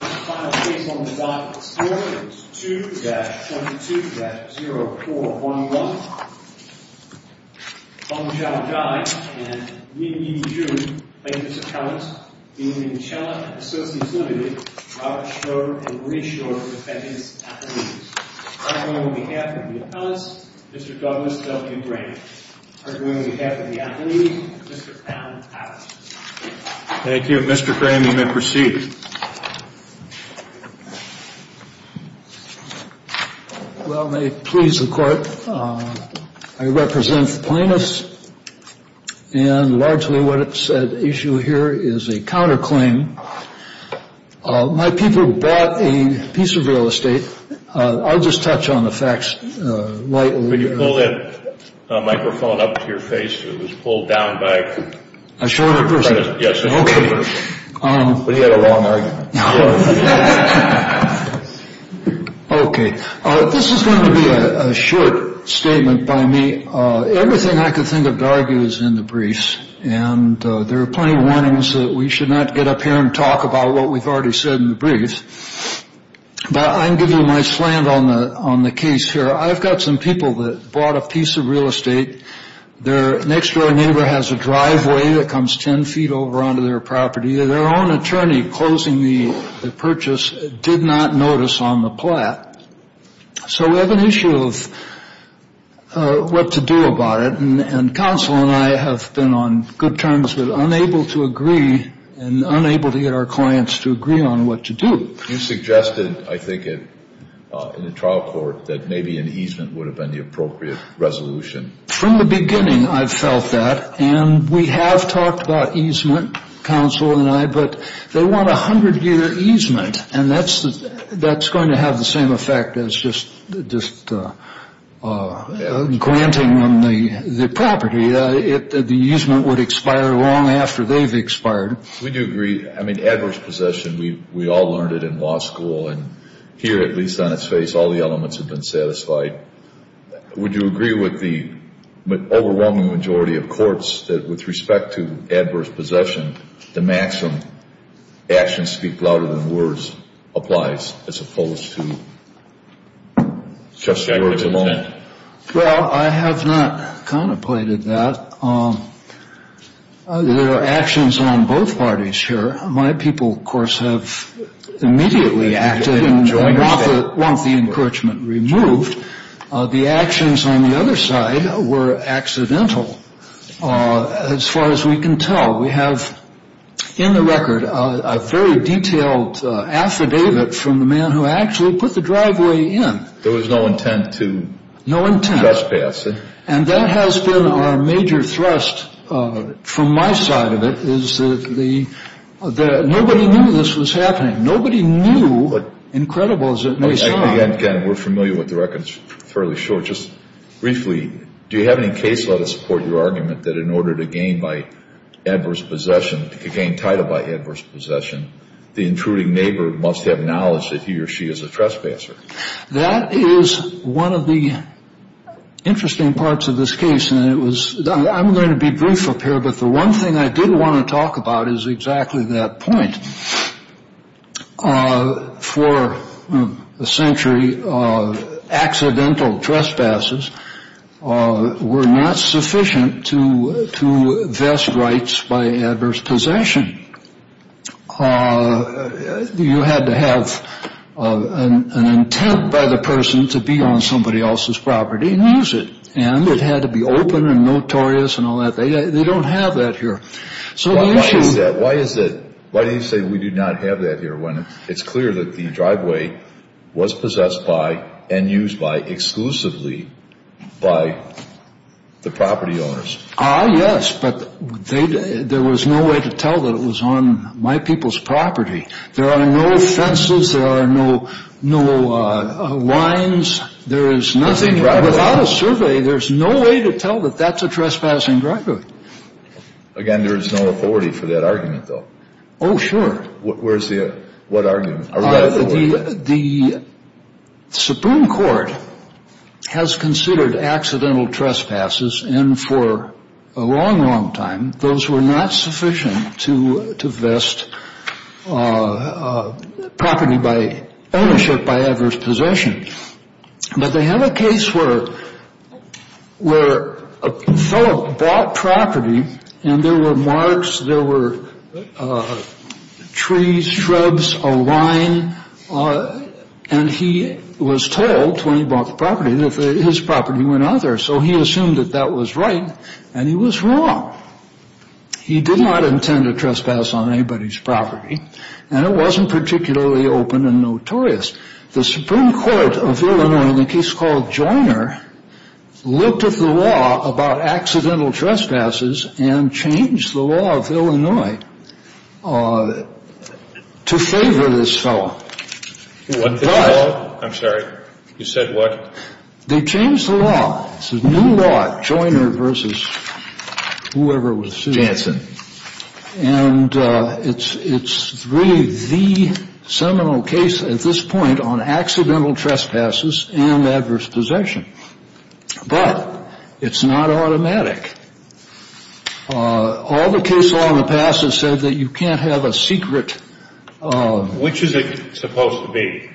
Robert Strode and Marie Strode, Defendant's Affidavits, arguing on behalf of the Appellants, Mr. Douglas W. Graham. Arguing on behalf of the Affidavits, Mr. Allen Allen. Thank you. Mr. Graham, you may proceed. Well, may it please the Court, I represent plaintiffs, and largely what's at issue here is a counterclaim. My people bought a piece of real estate. I'll just touch on the facts. Could you pull that microphone up to your face? It was pulled down by a... A shorter person? Yes, a shorter person. Okay. But he had a long argument. Okay. This is going to be a short statement by me. Everything I can think of to argue is in the briefs. And there are plenty of warnings that we should not get up here and talk about what we've already said in the briefs. But I'm giving you my slant on the case here. I've got some people that bought a piece of real estate. Their next-door neighbor has a driveway that comes 10 feet over onto their property. Their own attorney closing the purchase did not notice on the plat. So we have an issue of what to do about it. And counsel and I have been on good terms with unable to agree and unable to get our clients to agree on what to do. So you suggested, I think, in the trial court that maybe an easement would have been the appropriate resolution. From the beginning, I've felt that. And we have talked about easement, counsel and I, but they want a 100-year easement. And that's going to have the same effect as just granting them the property. The easement would expire long after they've expired. We do agree. I mean, adverse possession, we all learned it in law school. And here, at least on its face, all the elements have been satisfied. Would you agree with the overwhelming majority of courts that with respect to adverse possession, the maxim actions speak louder than words applies as opposed to just words alone? Well, I have not contemplated that. There are actions on both parties here. My people, of course, have immediately acted and want the encroachment removed. The actions on the other side were accidental as far as we can tell. We have in the record a very detailed affidavit from the man who actually put the driveway in. There was no intent to trespass. No intent. What has been our major thrust from my side of it is that nobody knew this was happening. Nobody knew, incredible as it may sound. Again, we're familiar with the record. It's fairly short. Just briefly, do you have any case law to support your argument that in order to gain by adverse possession, to gain title by adverse possession, the intruding neighbor must have knowledge that he or she is a trespasser? That is one of the interesting parts of this case. I'm going to be brief up here, but the one thing I did want to talk about is exactly that point. For a century, accidental trespasses were not sufficient to vest rights by adverse possession. You had to have an intent by the person to be on somebody else's property and use it. And it had to be open and notorious and all that. They don't have that here. Why do you say we do not have that here when it's clear that the driveway was possessed by and used by exclusively by the property owners? Ah, yes, but there was no way to tell that it was on my people's property. There are no fences. There are no lines. There is nothing. Without a survey, there's no way to tell that that's a trespassing driveway. Again, there is no authority for that argument, though. Oh, sure. What argument? The Supreme Court has considered accidental trespasses, and for a long, long time, those were not sufficient to vest property by ownership by adverse possession. But they have a case where a fellow bought property, and there were marks, there were trees, shrubs, a line, and he was told when he bought the property that his property went out there. So he assumed that that was right, and he was wrong. He did not intend to trespass on anybody's property, and it wasn't particularly open and notorious. The Supreme Court of Illinois, in a case called Joyner, looked at the law about accidental trespasses and changed the law of Illinois to favor this fellow. What the law? I'm sorry. You said what? They changed the law. It's a new law, Joyner v. whoever was sitting there. Jansen. And it's really the seminal case at this point on accidental trespasses and adverse possession. But it's not automatic. All the cases in the past have said that you can't have a secret. Which is it supposed to be?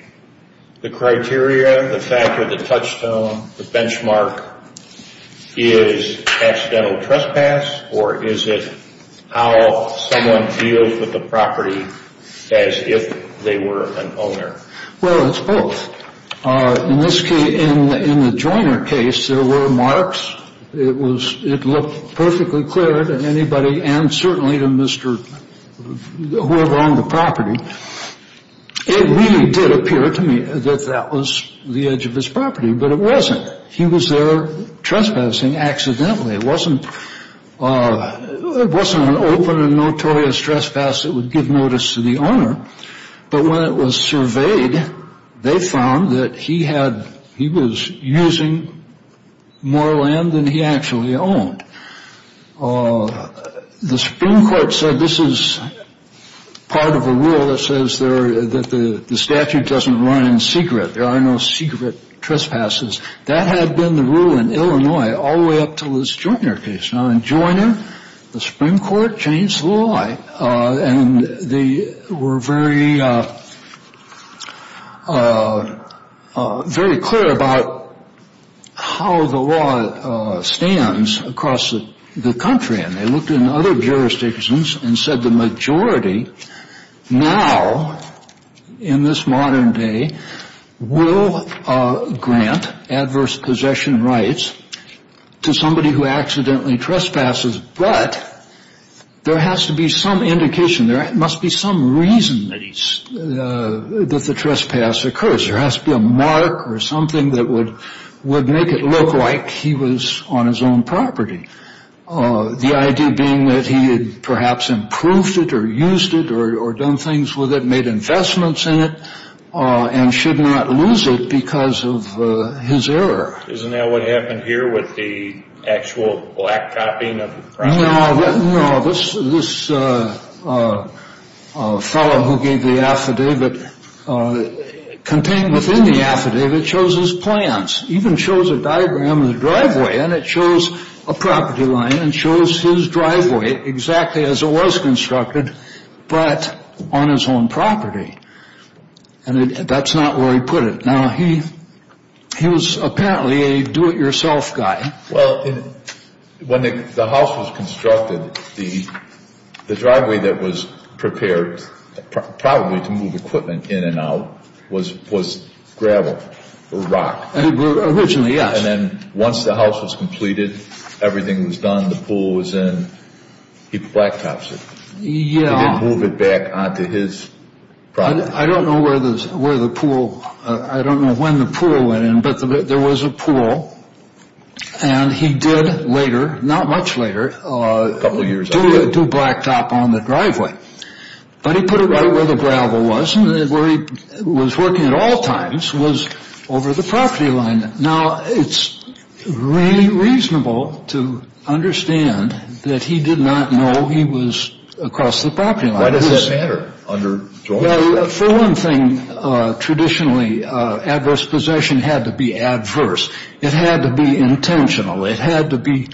The criteria, the factor, the touchstone, the benchmark is accidental trespass, or is it how someone deals with the property as if they were an owner? Well, it's both. In this case, in the Joyner case, there were marks. It looked perfectly clear to anybody and certainly to whoever owned the property. It really did appear to me that that was the edge of his property, but it wasn't. He was there trespassing accidentally. It wasn't an open and notorious trespass that would give notice to the owner. But when it was surveyed, they found that he was using more land than he actually owned. The Supreme Court said this is part of a rule that says that the statute doesn't run in secret. There are no secret trespasses. That had been the rule in Illinois all the way up to this Joyner case. Now, in Joyner, the Supreme Court changed the law, and they were very clear about how the law stands across the country. And they looked in other jurisdictions and said the majority now, in this modern day, will grant adverse possession rights to somebody who accidentally trespasses, but there has to be some indication, there must be some reason that the trespass occurs. There has to be a mark or something that would make it look like he was on his own property. The idea being that he had perhaps improved it or used it or done things with it, and should not lose it because of his error. Isn't that what happened here with the actual black copying of the property? No, this fellow who gave the affidavit contained within the affidavit shows his plans. He even shows a diagram of the driveway, and it shows a property line, and shows his driveway exactly as it was constructed, but on his own property. And that's not where he put it. Now, he was apparently a do-it-yourself guy. Well, when the house was constructed, the driveway that was prepared, probably to move equipment in and out, was gravel or rock. Originally, yes. And then once the house was completed, everything was done, the pool was in, he black tops it. He didn't move it back onto his property. I don't know where the pool, I don't know when the pool went in, but there was a pool, and he did later, not much later, do black top on the driveway. But he put it right where the gravel was, and where he was working at all times was over the property line. Now, it's reasonable to understand that he did not know he was across the property line. Why does that matter? Well, for one thing, traditionally, adverse possession had to be adverse. It had to be intentional. It had to be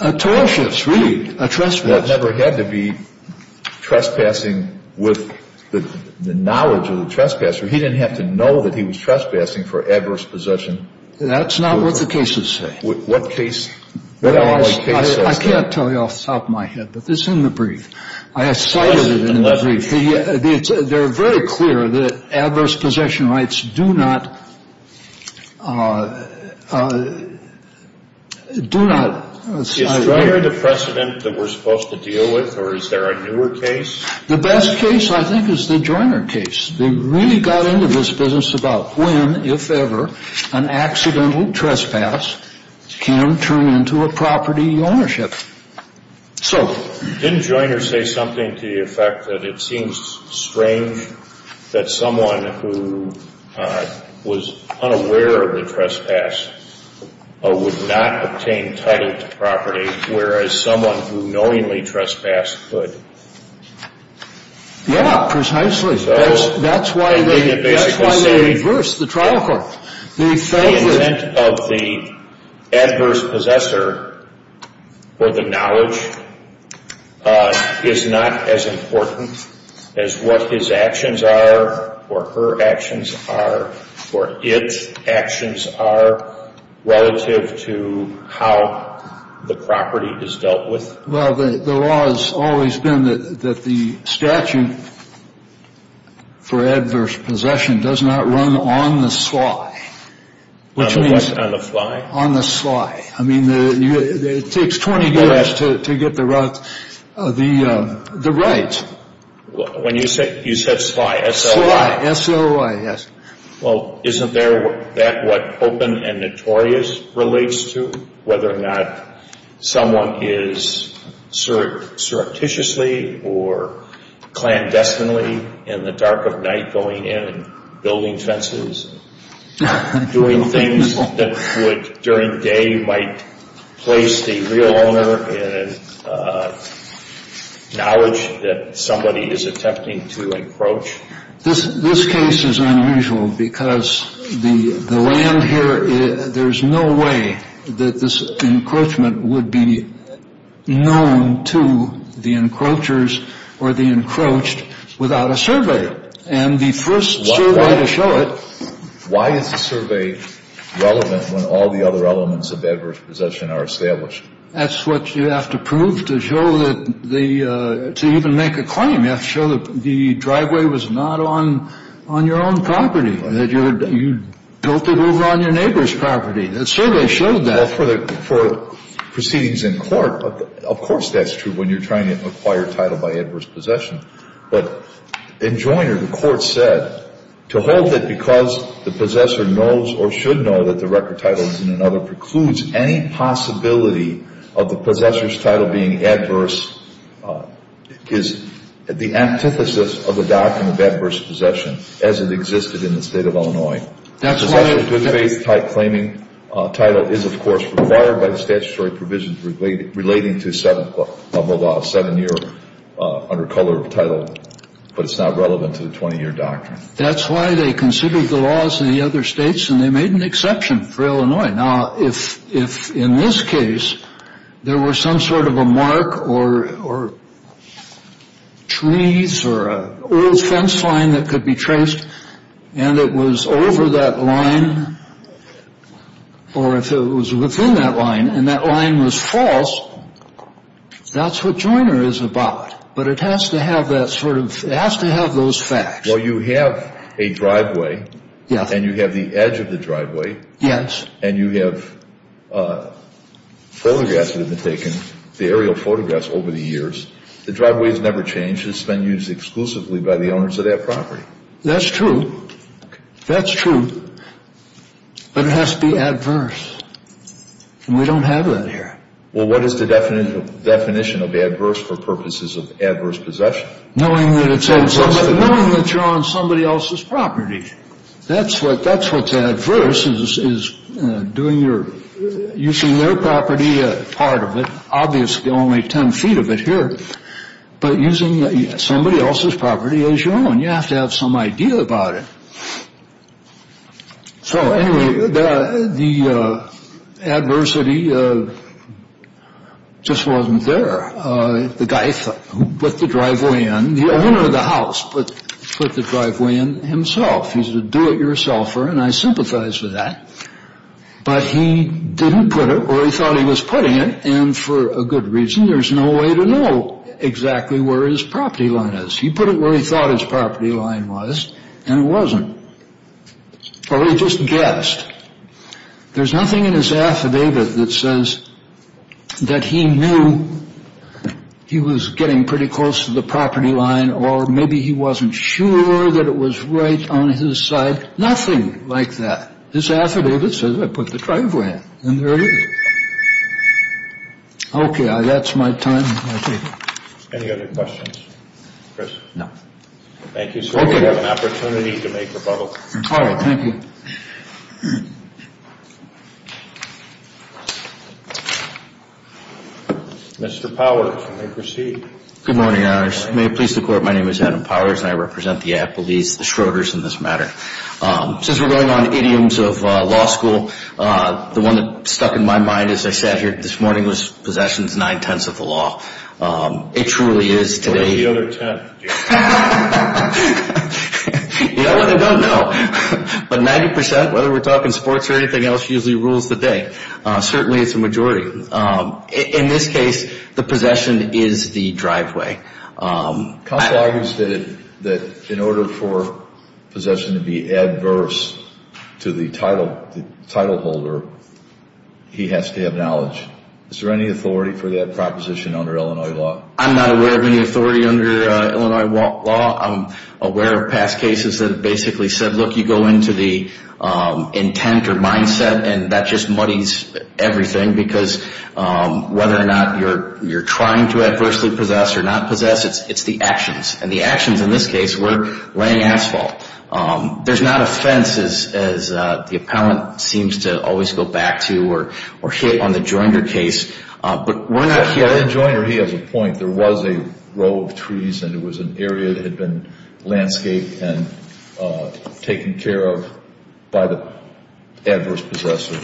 atrocious, really, a trespass. It never had to be trespassing with the knowledge of the trespasser. He didn't have to know that he was trespassing for adverse possession. That's not what the cases say. What case says that? I can't tell you off the top of my head, but it's in the brief. I have cited it in the brief. They're very clear that adverse possession rights do not... Is Joyner the precedent that we're supposed to deal with, or is there a newer case? The best case, I think, is the Joyner case. They really got into this business about when, if ever, an accidental trespass can turn into a property ownership. So... Didn't Joyner say something to the effect that it seems strange that someone who was unaware of the trespass would not obtain title to property, whereas someone who knowingly trespassed could? Yeah, precisely. That's why they reversed the trial court. The intent of the adverse possessor or the knowledge is not as important as what his actions are or her actions are or its actions are relative to how the property is dealt with. Well, the law has always been that the statute for adverse possession does not run on the sly. On the what? On the fly? On the sly. I mean, it takes 20 years to get the right. When you said sly, S-O-I. Sly, S-O-I, yes. Well, isn't that what open and notorious relates to? Whether or not someone is surreptitiously or clandestinely in the dark of night going in and building fences and doing things that during the day might place the real owner in a knowledge that somebody is attempting to encroach? This case is unusual because the land here, there's no way that this encroachment would be known to the encroachers or the encroached without a survey. And the first survey to show it? Why is the survey relevant when all the other elements of adverse possession are established? That's what you have to prove to show that the, to even make a claim. You have to show that the driveway was not on your own property, that you built it over on your neighbor's property. The survey showed that. Well, for proceedings in court, of course that's true when you're trying to acquire title by adverse possession. But in Joyner, the court said, to hold it because the possessor knows or should know that the record title is in another title that precludes any possibility of the possessor's title being adverse is the antithesis of the doctrine of adverse possession as it existed in the state of Illinois. That's why the good faith type claiming title is, of course, required by the statutory provisions relating to seven year under color title. But it's not relevant to the 20 year doctrine. That's why they considered the laws in the other states and they made an exception for Illinois. Now, if if in this case there were some sort of a mark or or trees or a fence line that could be traced and it was over that line. Or if it was within that line and that line was false. That's what Joyner is about. But it has to have that sort of it has to have those facts. Well, you have a driveway. Yes. And you have the edge of the driveway. Yes. And you have photographs that have been taken, the aerial photographs over the years. The driveway has never changed. It's been used exclusively by the owners of that property. That's true. That's true. But it has to be adverse. And we don't have that here. Well, what is the definition of adverse for purposes of adverse possession? Knowing that you're on somebody else's property. That's what that's what's adverse is doing your using their property. Part of it, obviously, only 10 feet of it here. But using somebody else's property as your own, you have to have some idea about it. So anyway, the adversity just wasn't there. The guy who put the driveway in, the owner of the house, put the driveway in himself. He's a do-it-yourselfer, and I sympathize with that. But he didn't put it where he thought he was putting it. And for a good reason, there's no way to know exactly where his property line is. He put it where he thought his property line was, and it wasn't. Or he just guessed. There's nothing in his affidavit that says that he knew he was getting pretty close to the property line or maybe he wasn't sure that it was right on his side. Nothing like that. His affidavit says, I put the driveway in, and there it is. Okay, that's my time. Any other questions? No. Thank you, sir. We have an opportunity to make rebuttal. All right, thank you. Mr. Powers, you may proceed. Good morning, Your Honors. May it please the Court, my name is Adam Powers, and I represent the Applebees, the Schroeders in this matter. Since we're going on idioms of law school, the one that stuck in my mind as I sat here this morning was possessions nine-tenths of the law. It truly is today. What about the other ten? I don't know. But 90%, whether we're talking sports or anything else, usually rules the day. Certainly it's a majority. In this case, the possession is the driveway. Counsel argues that in order for possession to be adverse to the title holder, he has to have knowledge. Is there any authority for that proposition under Illinois law? I'm not aware of any authority under Illinois law. I'm aware of past cases that basically said, look, you go into the intent or mindset and that just muddies everything because whether or not you're trying to adversely possess or not possess, it's the actions. And the actions in this case were laying asphalt. There's not a fence, as the appellant seems to always go back to or hit on the Joiner case. In Joiner, he has a point. There was a row of trees and it was an area that had been landscaped and taken care of by the adverse possessor.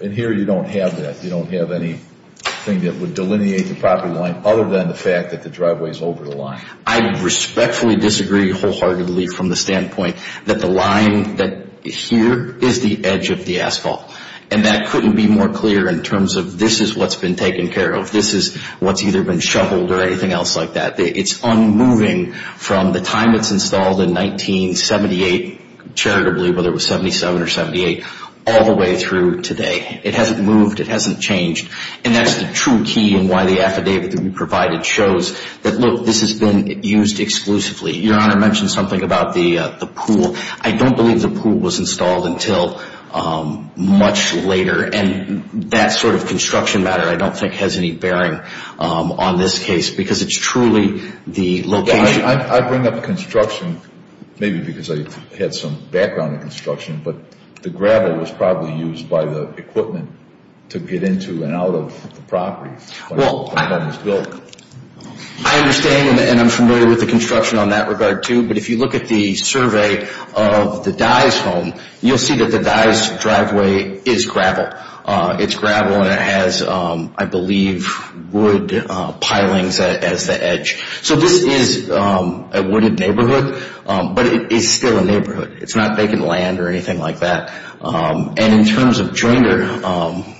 And here you don't have that. You don't have anything that would delineate the property line other than the fact that the driveway is over the line. I respectfully disagree wholeheartedly from the standpoint that the line here is the edge of the asphalt. And that couldn't be more clear in terms of this is what's been taken care of. This is what's either been shoveled or anything else like that. It's unmoving from the time it's installed in 1978, charitably, whether it was 77 or 78, all the way through today. It hasn't moved. It hasn't changed. And that's the true key in why the affidavit that we provided shows that, look, this has been used exclusively. Your Honor mentioned something about the pool. I don't believe the pool was installed until much later. And that sort of construction matter I don't think has any bearing on this case because it's truly the location. I bring up construction maybe because I had some background in construction, but the gravel was probably used by the equipment to get into and out of the property when it was built. I understand, and I'm familiar with the construction on that regard, too. But if you look at the survey of the Dyes home, you'll see that the Dyes driveway is gravel. It's gravel, and it has, I believe, wood pilings as the edge. So this is a wooded neighborhood, but it is still a neighborhood. It's not vacant land or anything like that. And in terms of jointer,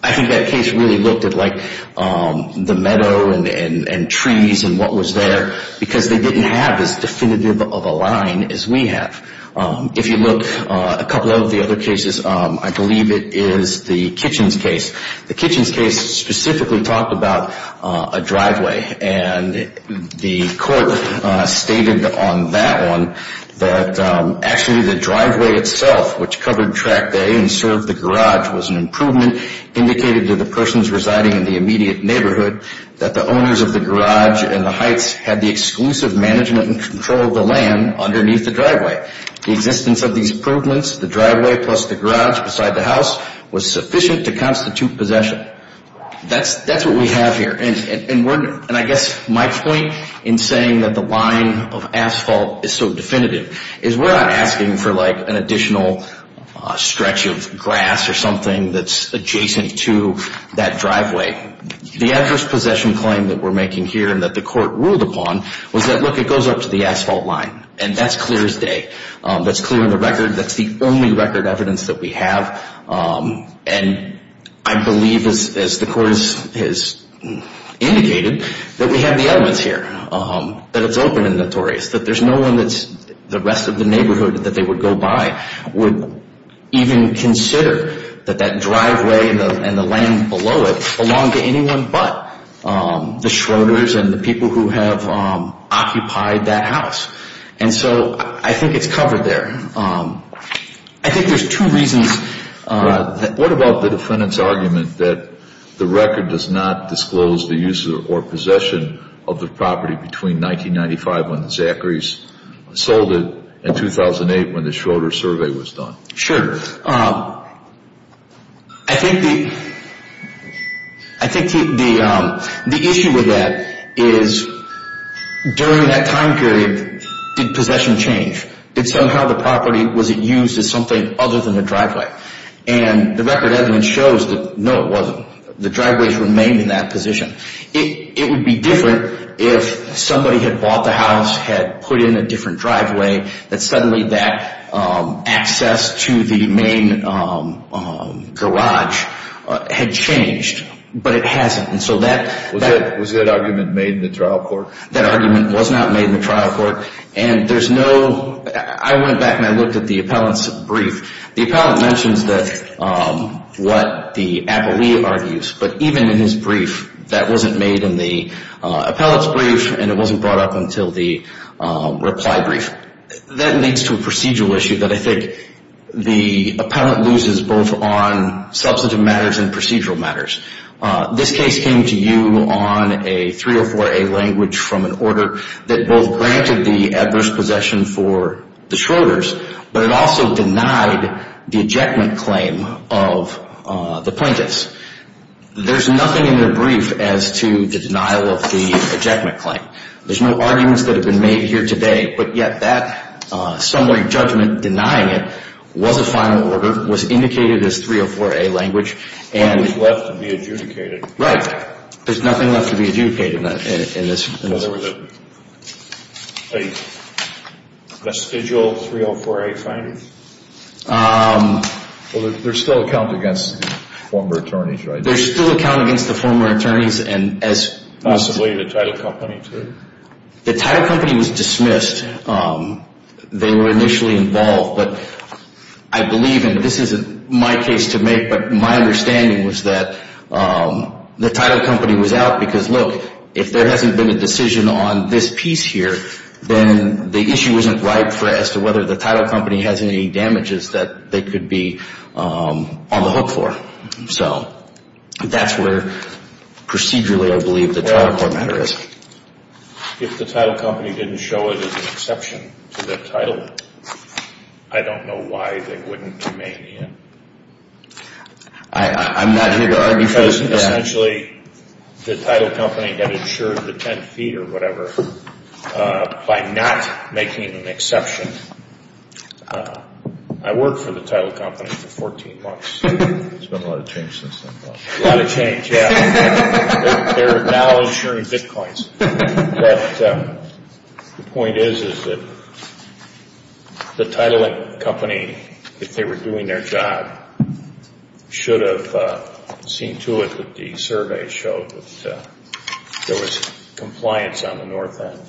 I think that case really looked at, like, the meadow and trees and what was there because they didn't have as definitive of a line as we have. If you look, a couple of the other cases, I believe it is the Kitchens case. The Kitchens case specifically talked about a driveway, and the court stated on that one that actually the driveway itself, which covered track day and served the garage, was an improvement indicated to the persons residing in the immediate neighborhood that the owners of the garage and the Heights had the exclusive management and control of the land underneath the driveway. The existence of these improvements, the driveway plus the garage beside the house, was sufficient to constitute possession. That's what we have here. And I guess my point in saying that the line of asphalt is so definitive is we're not asking for, like, an additional stretch of grass or something that's adjacent to that driveway. The adverse possession claim that we're making here and that the court ruled upon was that, look, it goes up to the asphalt line, and that's clear as day. That's clear on the record. That's the only record evidence that we have. And I believe, as the court has indicated, that we have the elements here, that it's open and notorious, that there's no one that's the rest of the neighborhood that they would go by would even consider that that driveway and the land below it belonged to anyone but the Schroeders and the people who have occupied that house. And so I think it's covered there. I think there's two reasons. What about the defendant's argument that the record does not disclose the use or possession of the property between 1995 when the Zacharies sold it and 2008 when the Schroeders survey was done? Sure. I think the issue with that is during that time period, did possession change? Did somehow the property, was it used as something other than the driveway? And the record evidence shows that, no, it wasn't. The driveways remained in that position. It would be different if somebody had bought the house, had put in a different driveway, that suddenly that access to the main garage had changed, but it hasn't. Was that argument made in the trial court? That argument was not made in the trial court. And there's no – I went back and I looked at the appellant's brief. The appellant mentions what the appellee argues, but even in his brief that wasn't made in the appellant's brief and it wasn't brought up until the reply brief. That leads to a procedural issue that I think the appellant loses both on substantive matters and procedural matters. This case came to you on a 304A language from an order that both granted the adverse possession for the Schroeders, but it also denied the ejectment claim of the plaintiffs. There's nothing in their brief as to the denial of the ejectment claim. There's no arguments that have been made here today, but yet that summary judgment denying it was a final order, was indicated as 304A language, and – It was left to be adjudicated. Right. There's nothing left to be adjudicated in this case. So there was a vestigial 304A finding? Well, there's still a count against the former attorneys, right? There's still a count against the former attorneys and as – Possibly the title company too? The title company was dismissed. They were initially involved, but I believe, and this isn't my case to make, if there hasn't been a decision on this piece here, then the issue isn't right as to whether the title company has any damages that they could be on the hook for. So that's where procedurally I believe the title court matter is. If the title company didn't show it as an exception to their title, I don't know why they wouldn't remain in. I'm not here to argue for – It wasn't essentially the title company that insured the 10 feet or whatever by not making an exception. I worked for the title company for 14 months. There's been a lot of change since then. A lot of change, yeah. They're now insuring bitcoins. But the point is, is that the title company, if they were doing their job, should have seen to it that the survey showed that there was compliance on the north end.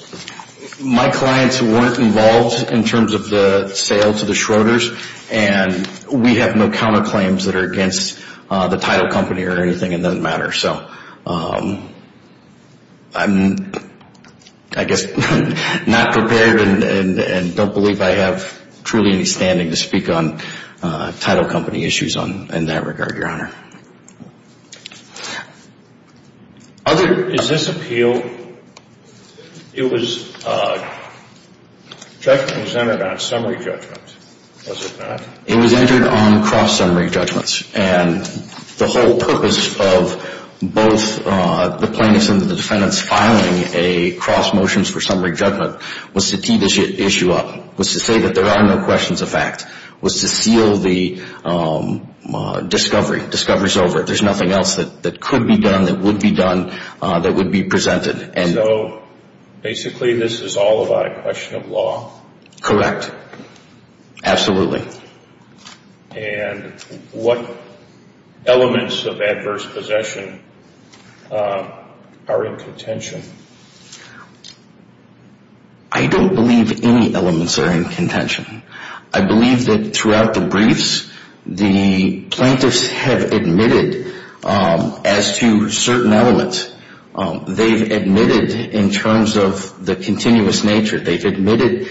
My clients weren't involved in terms of the sale to the Schroeders, and we have no counterclaims that are against the title company or anything. It doesn't matter. So I'm, I guess, not prepared and don't believe I have truly any standing to speak on title company issues in that regard, Your Honor. Other than this appeal, it was presented on summary judgments, was it not? It was entered on cross-summary judgments, and the whole purpose of both the plaintiffs and the defendants filing a cross motion for summary judgment was to tee the issue up, was to say that there are no questions of fact, was to seal the discovery. Discovery's over. There's nothing else that could be done, that would be done, that would be presented. So basically this is all about a question of law? Correct. Absolutely. And what elements of adverse possession are in contention? I don't believe any elements are in contention. I believe that throughout the briefs, the plaintiffs have admitted as to certain elements. They've admitted in terms of the continuous nature. They've admitted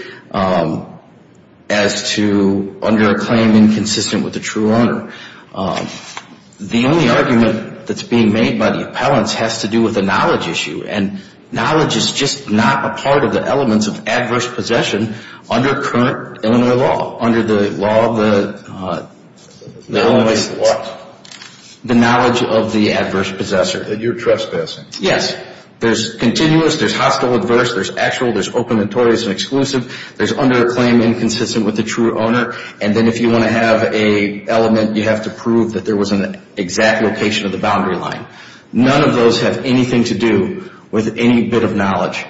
as to under a claim inconsistent with the true honor. The only argument that's being made by the appellants has to do with the knowledge issue, and knowledge is just not a part of the elements of adverse possession under current Illinois law, under the law of the Illinois, the knowledge of the adverse possessor. That you're trespassing. Yes. There's continuous, there's hostile adverse, there's actual, there's open notorious and exclusive, there's under a claim inconsistent with the true owner, and then if you want to have an element, you have to prove that there was an exact location of the boundary line. None of those have anything to do with any bit of knowledge.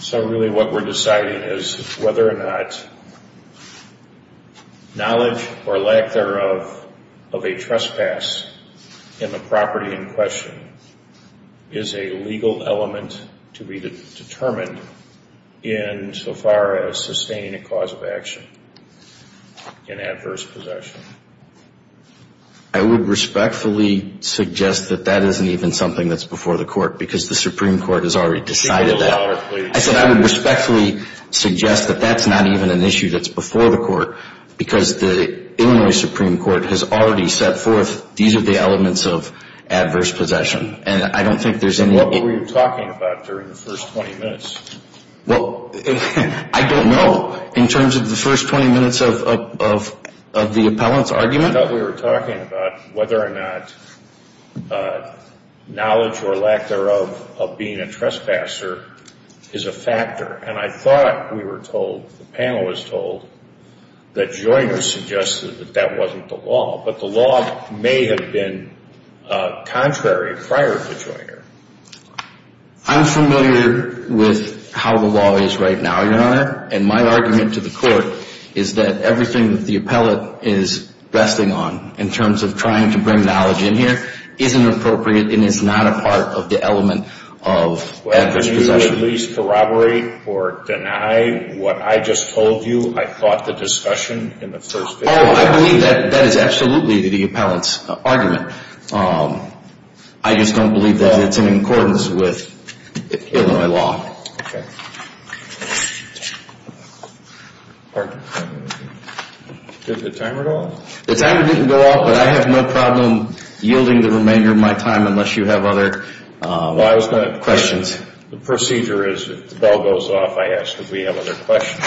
So really what we're deciding is whether or not knowledge or lack thereof of a trespass in the property in question is a legal element to be determined in so far as sustaining a cause of action in adverse possession. I would respectfully suggest that that isn't even something that's before the court, because the Supreme Court has already decided that. I said I would respectfully suggest that that's not even an issue that's before the court, because the Illinois Supreme Court has already set forth these are the elements of adverse possession, and I don't think there's any other. What were you talking about during the first 20 minutes? Well, I don't know. In terms of the first 20 minutes of the appellant's argument. I thought we were talking about whether or not knowledge or lack thereof of being a trespasser is a factor, and I thought we were told, the panel was told, that Joyner suggested that that wasn't the law, but the law may have been contrary prior to Joyner. I'm familiar with how the law is right now, Your Honor, and my argument to the court is that everything that the appellant is resting on in terms of trying to bring knowledge in here isn't appropriate and is not a part of the element of adverse possession. Would you at least corroborate or deny what I just told you? I thought the discussion in the first 20 minutes. Oh, I believe that that is absolutely the appellant's argument. I just don't believe that it's in accordance with Illinois law. Okay. Did the timer go off? The timer didn't go off, but I have no problem yielding the remainder of my time unless you have other questions. Questions? The procedure is if the bell goes off, I ask if we have other questions.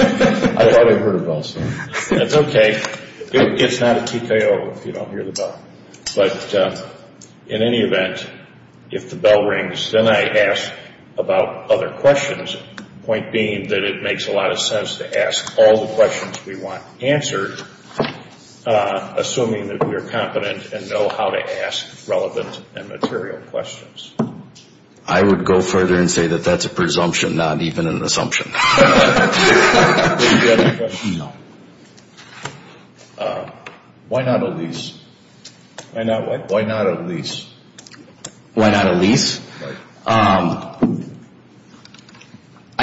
I thought I heard a bell sound. That's okay. It's not a TKO if you don't hear the bell. But in any event, if the bell rings, then I ask about other questions, the point being that it makes a lot of sense to ask all the questions we want answered, assuming that we are competent and know how to ask relevant and material questions. I would go further and say that that's a presumption, not even an assumption. Do you have any questions? No. Why not a lease? Why not what? Why not a lease? Why not a lease? I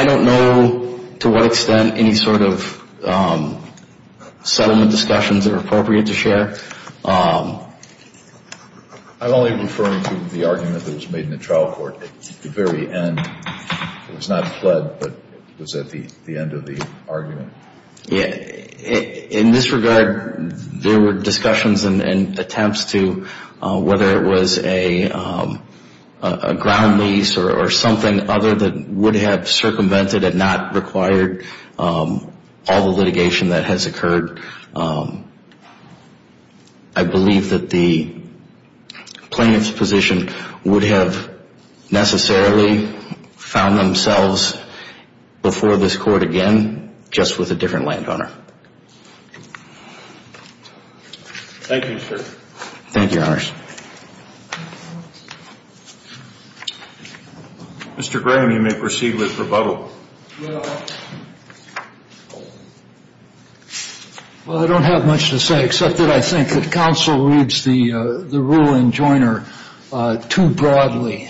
don't know to what extent any sort of settlement discussions are appropriate to share. I'm only referring to the argument that was made in the trial court at the very end. It was not fled, but it was at the end of the argument. In this regard, there were discussions and attempts to, whether it was a ground lease or something other that would have circumvented and not required all the litigation that has occurred. I believe that the plaintiff's position would have necessarily found themselves before this court again, just with a different landowner. Thank you, sir. Thank you, Your Honors. Mr. Graham, you may proceed with rebuttal. Well, I don't have much to say except that I think that counsel reads the rule in Joyner too broadly.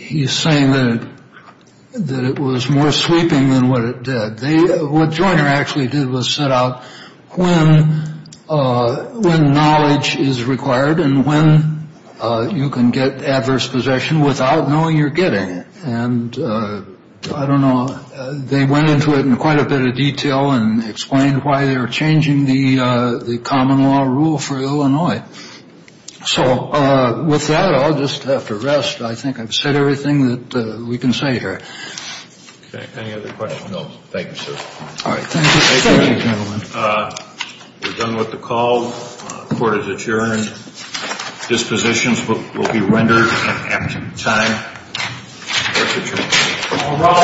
He's saying that it was more sweeping than what it did. What Joyner actually did was set out when knowledge is required and when you can get adverse possession without knowing you're getting it. And I don't know, they went into it in quite a bit of detail and explained why they were changing the common law rule for Illinois. So with that, I'll just have to rest. I think I've said everything that we can say here. Okay. Any other questions? No. Thank you, sir. All right. Thank you. Thank you, gentlemen. We're done with the call. Court is adjourned. Dispositions will be rendered at time. Court is adjourned.